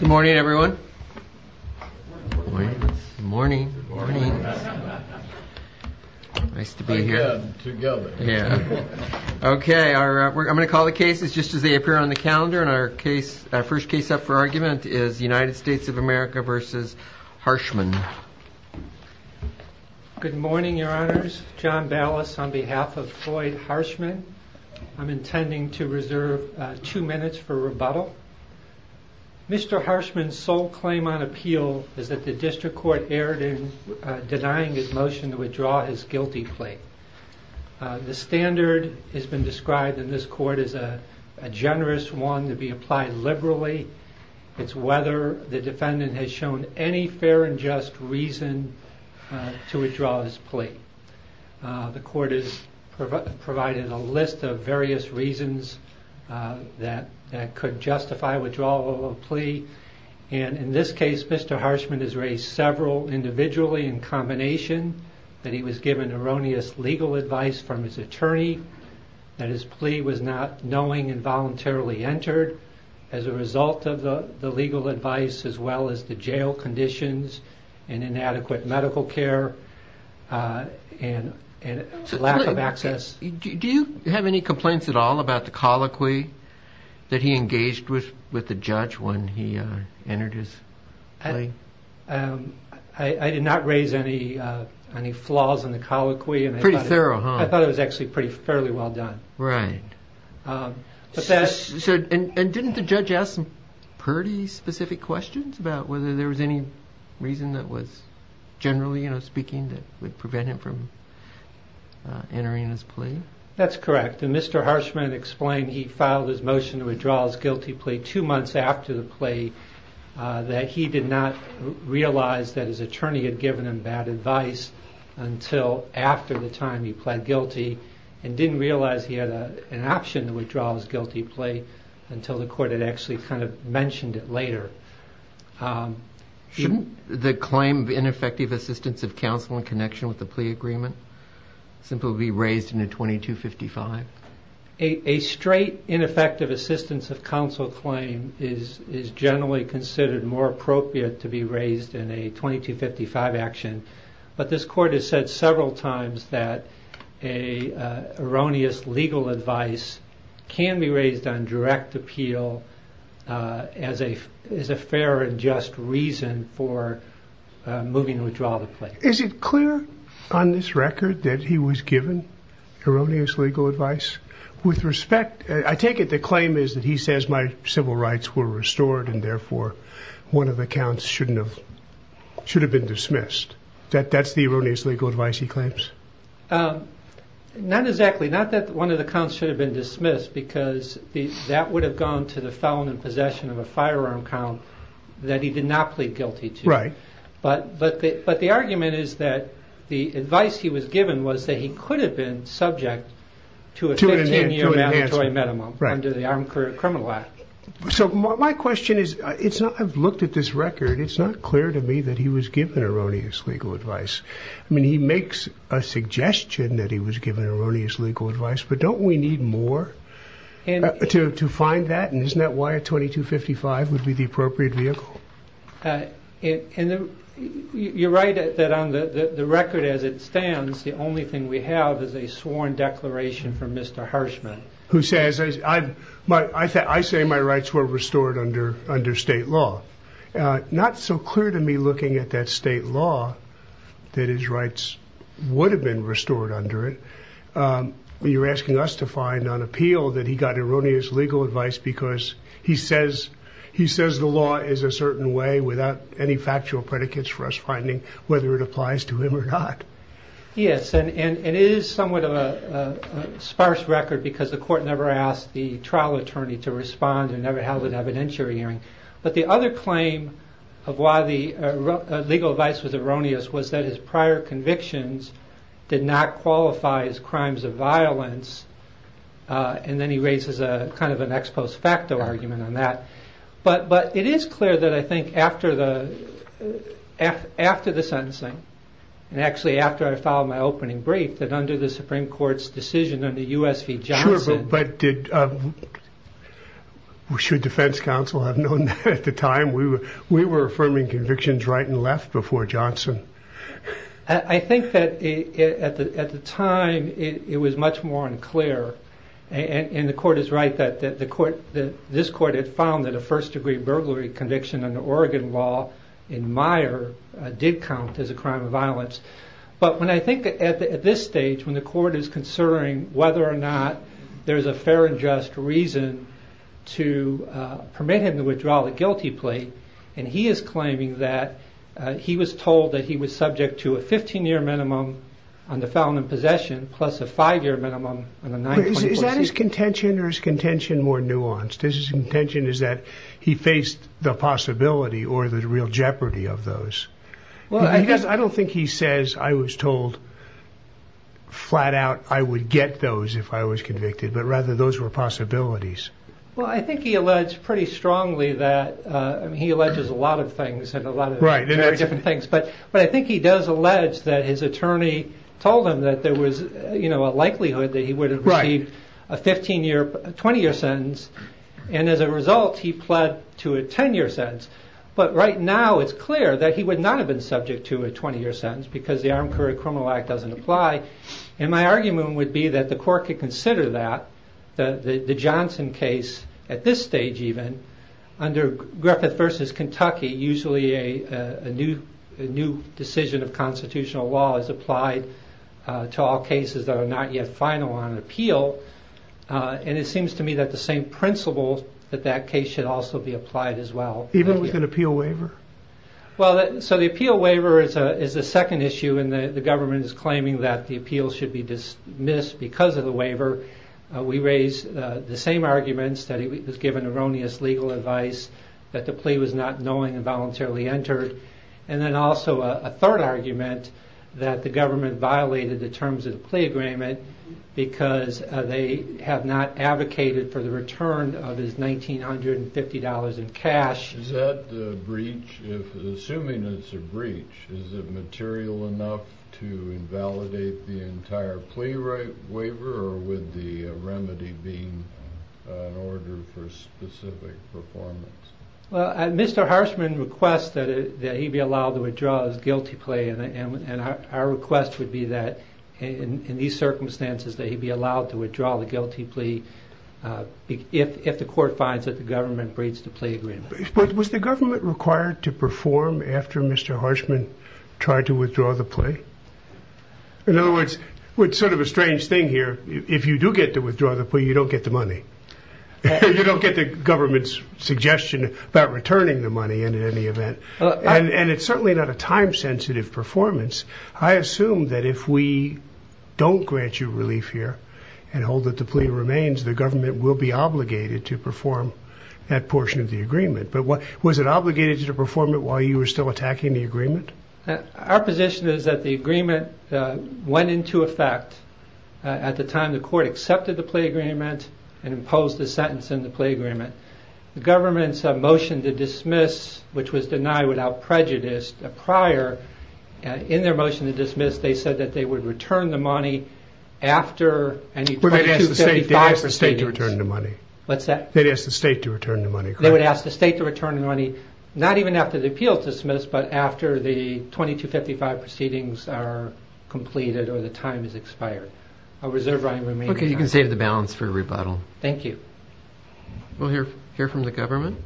Good morning everyone. I'm going to call the cases just as they appear on the calendar and our first case up for argument is United States of America v. Harshman. Good morning your honors. John Ballas on behalf of Floyd Harshman. I'm intending to reserve two minutes for rebuttal. Mr. Harshman's sole claim on appeal is that the district court erred in denying his motion to withdraw his guilty plea. The standard has been described in this court as a generous one to be applied liberally. It's whether the defendant has shown any fair and just reason to withdraw his plea. The court has provided a list of various reasons that could justify withdrawal of a plea. In this case Mr. Harshman has raised several individually in combination that he was given erroneous legal advice from his attorney. That his plea was not knowing and voluntarily entered as a result of the legal advice as well as the jail conditions and inadequate medical care and lack of access. Do you have any complaints at all about the colloquy that he engaged with the judge when he entered his plea? I did not raise any flaws in the colloquy. I thought it was actually fairly well done. Didn't the judge ask some pretty specific questions about whether there was any reason that was generally speaking that would prevent him from entering his plea? That's correct. Mr. Harshman explained he filed his motion to withdraw his guilty plea two months after the plea that he did not realize that his attorney had given him bad advice until after the time he pled guilty and didn't realize he had an option to withdraw his guilty plea until the court had actually kind of mentioned it later. Shouldn't the claim of ineffective assistance of counsel in connection with the plea agreement simply be raised in a 2255? A straight ineffective assistance of counsel claim is generally considered more appropriate to be raised in a 2255 action, but this court has said several times that an erroneous legal advice can be raised on direct appeal as a fair and just reason for moving to withdraw the plea. Is it clear on this record that he was given erroneous legal advice? With respect, I take it the claim is that he says my civil rights were restored and therefore one of the counts should have been dismissed. That's the erroneous legal advice he claims? Not exactly. Not that one of the counts should have been dismissed because that would have gone to the felon in possession of a firearm count that he did not plead guilty to. But the argument is that the advice he was given was that he could have been subject to a 15 year mandatory minimum under the Armed Criminal Act. So my question is, I've looked at this record, it's not clear to me that he was given erroneous legal advice. I mean, he makes a suggestion that he was given erroneous legal advice, but don't we need more to find that? And isn't that why a 2255 would be the appropriate vehicle? You're right that on the record as it stands, the only thing we have is a sworn declaration from Mr. Harshman. I say my rights were restored under state law. Not so clear to me looking at that state law that his rights would have been restored under it. You're asking us to find on appeal that he got erroneous legal advice because he says the law is a certain way without any factual predicates for us finding whether it applies to him or not. Yes, and it is somewhat of a sparse record because the court never asked the trial attorney to respond and never held an evidentiary hearing. But the other claim of why the legal advice was erroneous was that his prior convictions did not qualify as crimes of violence and then he raises kind of an ex post facto argument on that. But it is clear that I think after the after the sentencing and actually after I filed my opening brief that under the Supreme Court's decision under U.S. v. Johnson... Sure, but should defense counsel have known that at the time? We were affirming convictions right and left before Johnson. I think that at the time it was much more unclear and the court is right that this court had found that a first degree burglary conviction under Oregon law in Meyer did count as a crime of violence. But when I think at this stage when the court is concerning whether or not there's a fair and just reason to permit him to withdraw the guilty plate and he is claiming that he was told that he was subject to a 15 year minimum on the felon in possession plus a five year minimum on a 9-24-6... I don't think he says I was told flat out I would get those if I was convicted but rather those were possibilities. Well I think he alleged pretty strongly that he alleges a lot of things and a lot of very different things but I think he does allege that his attorney told him that there was a likelihood that he would have received a 15 year 20 year sentence and as a result he pled to a 10 year sentence. But right now it's clear that he would not have been subject to a 20 year sentence because the Armed Career Criminal Act doesn't apply and my argument would be that the court could consider that the Johnson case at this stage even under Griffith versus Kentucky usually a new decision of constitutional law is applied to all cases that are not yet final on appeal and it seems to me that the same principle that that case should also be applied as well. Well so the appeal waiver is the second issue and the government is claiming that the appeal should be dismissed because of the waiver we raise the same arguments that he was given erroneous legal advice that the plea was not knowing and voluntarily entered and then also a third argument that the government violated the terms of the plea agreement because they have not advocated for the return of his $1,950 in cash. Is that the breach if assuming it's a breach is it material enough to invalidate the entire plea right waiver or with the remedy being an order for specific performance? Well Mr. Harshman requests that he be allowed to withdraw his guilty plea and our request would be that in these circumstances that he be allowed to withdraw the guilty plea if the court finds that the government breaks the plea agreement. Was the government required to perform after Mr. Harshman tried to withdraw the plea? In other words it's sort of a strange thing here if you do get to withdraw the plea you don't get the money you don't get the government's suggestion about returning the money in any event and it's certainly not a time sensitive performance I assume that if we don't grant you relief here and hold that the plea remains the government will be obligated to perform that portion of the agreement. But was it obligated to perform it while you were still attacking the agreement? Our position is that the agreement went into effect at the time the court accepted the plea agreement and imposed the sentence in the plea agreement. The government's motion to dismiss which was denied without prejudice prior in their motion to dismiss they said that they would return the money after. They asked the state to return the money. What's that? They asked the state to return the money. They would ask the state to return the money not even after the appeal is dismissed but after the 2255 proceedings are completed or the time is expired. I reserve my remaining time. Okay you can save the balance for rebuttal. Thank you. We'll hear from the government.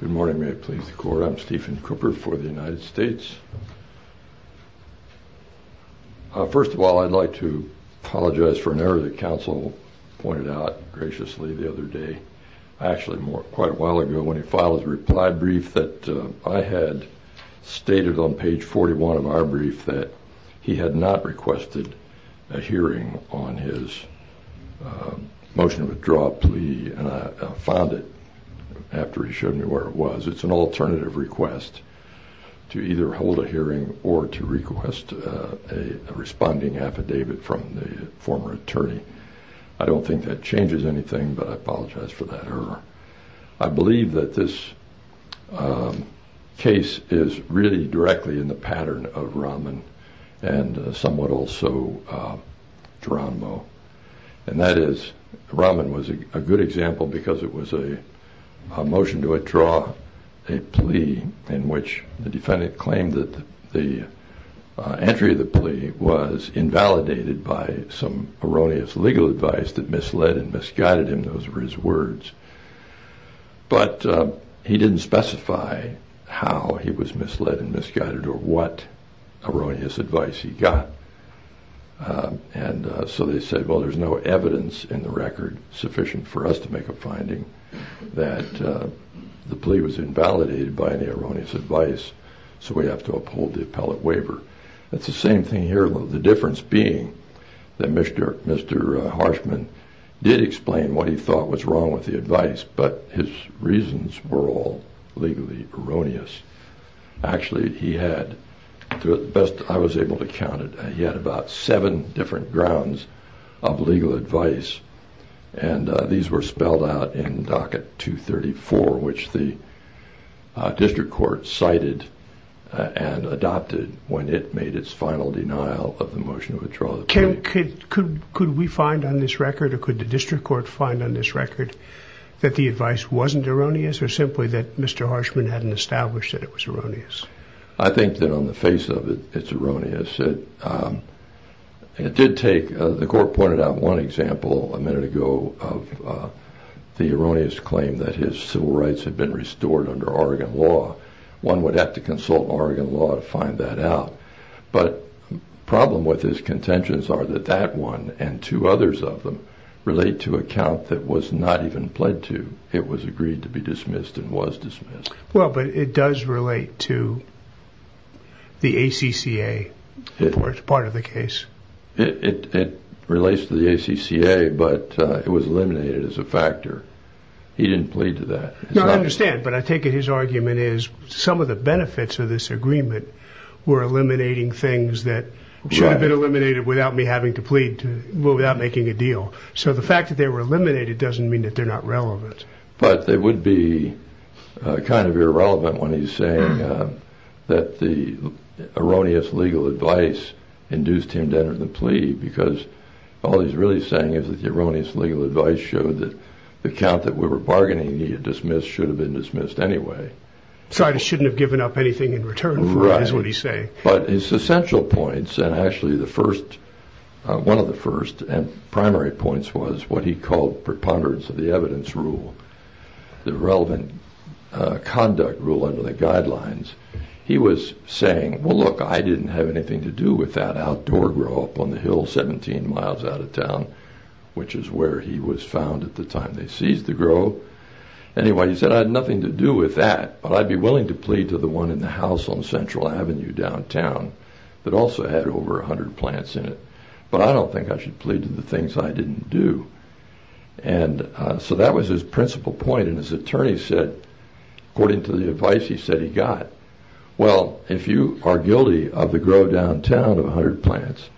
Good morning may it please the court I'm Stephen Cooper for the United States. First of all I'd like to apologize for an error that counsel pointed out graciously the other day. Actually quite a while ago when he filed his reply brief that I had stated on page 41 of our brief that he had not requested a hearing on his motion to withdraw a plea and I found it after he showed me where it was. It's an alternative request to either hold a hearing or to request a responding affidavit from the former attorney. I don't think that changes anything but I apologize for that error. I believe that this case is really directly in the pattern of Rahman and somewhat also Geronimo and that is Rahman was a good example because it was a motion to withdraw a plea in which the defendant claimed that the entry of the plea was invalidated by some erroneous legal advice that misled and misguided him. Those were his words but he didn't specify how he was misled and misguided or what erroneous advice he got and so they said well there's no evidence in the record sufficient for us to make a finding that the plea was invalidated by any erroneous advice so we have to uphold the appellate waiver. It's the same thing here although the difference being that Mr. Harshman did explain what he thought was wrong with the advice but his reasons were all legally erroneous. Actually he had, to the best I was able to count it, he had about seven different grounds of legal advice and these were spelled out in docket 234 which the district court cited and adopted when it made its final denial of the motion to withdraw the plea. Could we find on this record or could the district court find on this record that the advice wasn't erroneous or simply that Mr. Harshman hadn't established that it was erroneous? I think that on the face of it, it's erroneous. It did take, the court pointed out one example a minute ago of the erroneous claim that his civil rights had been restored under Oregon law. One would have to consult Oregon law to find that out but the problem with his contentions are that that one and two others of them relate to a count that was not even pled to. It was agreed to be dismissed and was dismissed. Well but it does relate to the ACCA part of the case. It relates to the ACCA but it was eliminated as a factor. He didn't plead to that. No I understand but I take it his argument is some of the benefits of this agreement were eliminating things that should have been eliminated without me having to plead to, without making a deal. So the fact that they were eliminated doesn't mean that they're not relevant. But they would be kind of irrelevant when he's saying that the erroneous legal advice induced him to enter the plea because all he's really saying is that the erroneous legal advice showed that the count that we were bargaining he had dismissed should have been dismissed anyway. So I shouldn't have given up anything in return is what he's saying. But his essential points and actually the first, one of the first and primary points was what he called preponderance of the evidence rule. The relevant conduct rule under the guidelines. He was saying well look I didn't have anything to do with that outdoor grow up on the hill 17 miles out of town which is where he was found at the time they seized the grove. Anyway he said I had nothing to do with that but I'd be willing to plead to the one in the house on Central Avenue downtown that also had over 100 plants in it. But I don't think I should plead to the things I didn't do. And so that was his principal point and his attorney said according to the advice he said he got well if you are guilty of the grove downtown of 100 plants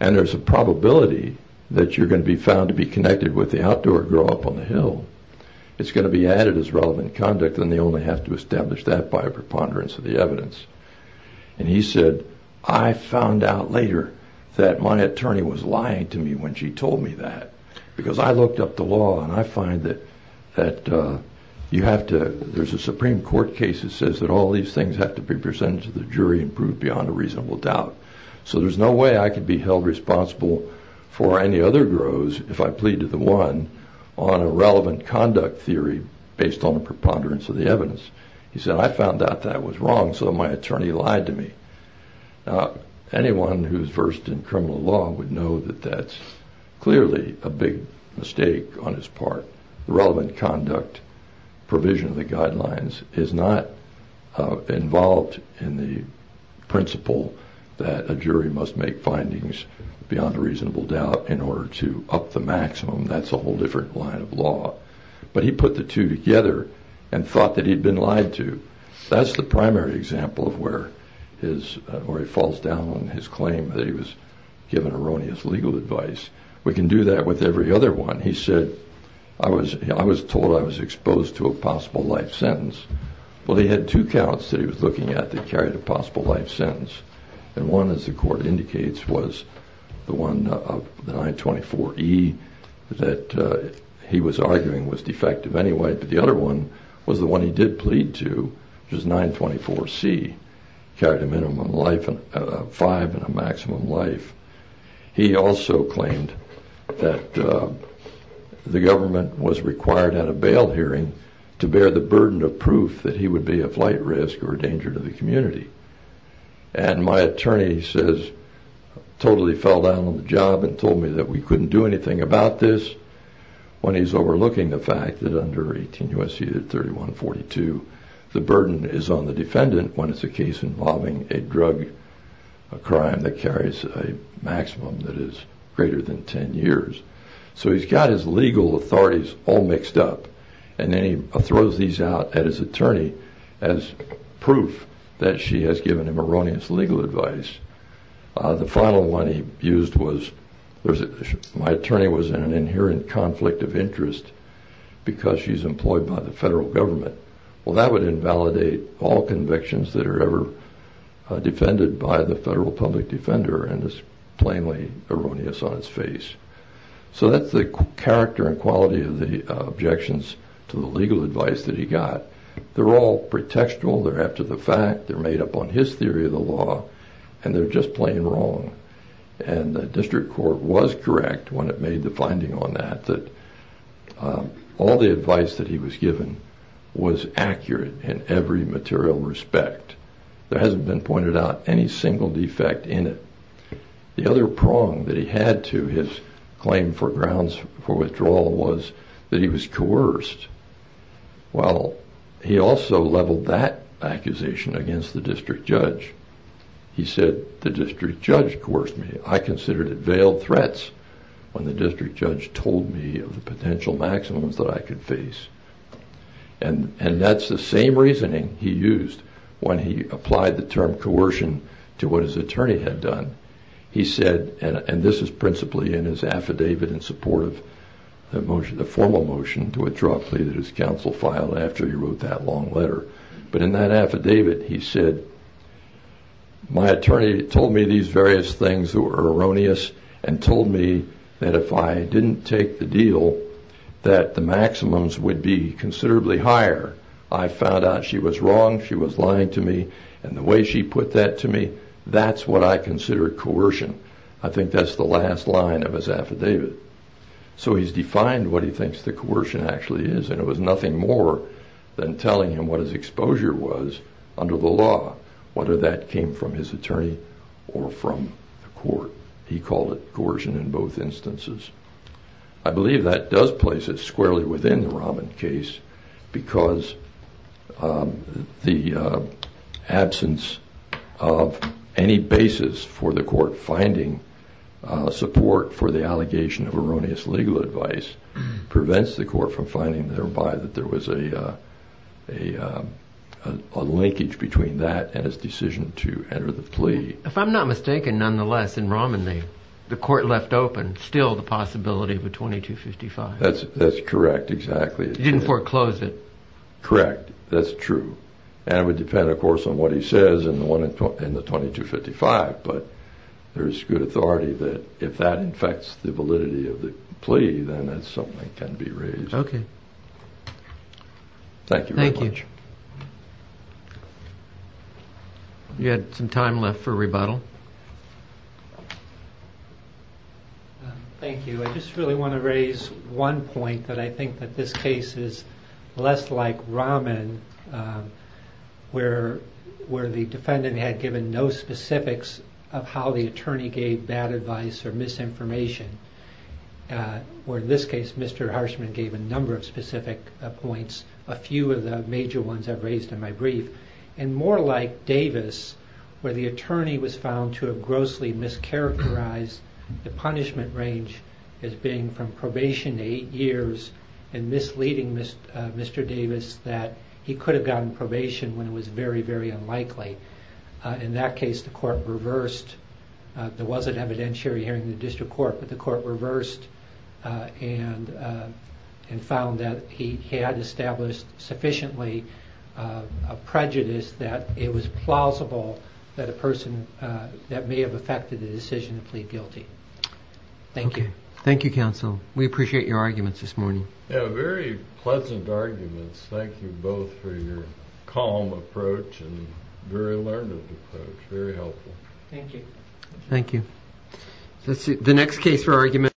and there's a probability that you're going to be found to be connected with the outdoor grow up on the hill it's going to be added as relevant conduct and they only have to establish that by preponderance of the evidence. And he said I found out later that my attorney was lying to me when she told me that because I looked up the law and I find that you have to, there's a Supreme Court case that says that all these things have to be presented to the jury and proved beyond a reasonable doubt. So there's no way I could be held responsible for any other grows if I plead to the one on a relevant conduct theory based on a preponderance of the evidence. He said I found out that was wrong so my attorney lied to me. Now anyone who's versed in criminal law would know that that's clearly a big mistake on his part. The relevant conduct provision of the guidelines is not involved in the principle that a jury must make findings beyond a reasonable doubt in order to up the maximum that's a whole different line of law. But he put the two together and thought that he'd been lied to. That's the primary example of where his, where he falls down on his claim that he was given erroneous legal advice. We can do that with every other one. He said I was, I was told I was exposed to a possible life sentence. Well he had two counts that he was looking at that carried a possible life sentence. And one as the court indicates was the one of the 924E that he was arguing was defective anyway. But the other one was the one he did plead to which was 924C carried a minimum life of five and a maximum life. He also claimed that the government was required at a bail hearing to bear the burden of proof that he would be a flight risk or a danger to the community. And my attorney says totally fell down on the job and told me that we couldn't do anything about this when he's overlooking the fact that under 18 U.S.C. 3142 the burden is on the defendant when it's a case involving a drug crime that carries a maximum that is greater than 10 years. So he's got his legal authorities all mixed up and then he throws these out at his attorney as proof that she has given him erroneous legal advice. The final one he used was my attorney was in an inherent conflict of interest because she's employed by the federal government. Well that would invalidate all convictions that are ever defended by the federal public defender and is plainly erroneous on its face. So that's the character and quality of the objections to the legal advice that he got. They're all pretextual, they're after the fact, they're made up on his theory of the law and they're just plain wrong. And the district court was correct when it made the finding on that that all the advice that he was given was accurate in every material respect. There hasn't been pointed out any single defect in it. The other prong that he had to his claim for grounds for withdrawal was that he was coerced. Well he also leveled that accusation against the district judge. He said the district judge coerced me. I considered it veiled threats when the district judge told me of the potential maximums that I could face. And that's the same reasoning he used when he applied the term coercion to what his attorney had done. He said, and this is principally in his affidavit in support of the formal motion to withdraw a plea that his counsel filed after he wrote that long letter. But in that affidavit he said, my attorney told me these various things that were erroneous and told me that if I didn't take the deal that the maximums would be considerably higher. I found out she was wrong. She was lying to me. And the way she put that to me, that's what I consider coercion. I think that's the last line of his affidavit. So he's defined what he thinks the coercion actually is. And it was nothing more than telling him what his exposure was under the law, whether that came from his attorney or from the court. He called it coercion in both instances. I believe that does place it squarely within the Rahman case because the absence of any basis for the court finding support for the allegation of erroneous legal advice prevents the court from finding thereby that there was a linkage between that and his decision to enter the plea. If I'm not mistaken, nonetheless, in Rahman, the court left open still the possibility of a 2255. That's correct, exactly. He didn't foreclose it. Correct. That's true. And it would depend, of course, on what he says in the 2255. But there's good authority that if that affects the validity of the plea, then that's something that can be raised. Thank you very much. Thank you. You had some time left for rebuttal. Thank you. I just really want to raise one point that I think that this case is less like Rahman, where the defendant had given no specifics of how the attorney gave bad advice or misinformation. Where in this case, Mr. Harshman gave a number of specific points, a few of the major ones I've raised in my brief. And more like Davis, where the attorney was found to have grossly mischaracterized the punishment range as being from probation to eight years and misleading Mr. Davis that he could have gotten probation when it was very, very unlikely. In that case, the court reversed. There wasn't evidentiary hearing in the district court, but the court reversed and found that he had established sufficiently a prejudice that it was plausible that a person that may have affected the decision to plead guilty. Thank you. Thank you, counsel. We appreciate your arguments this morning. Yeah, very pleasant arguments. Thank you both for your calm approach and very learned approach. Very helpful. Thank you. Thank you.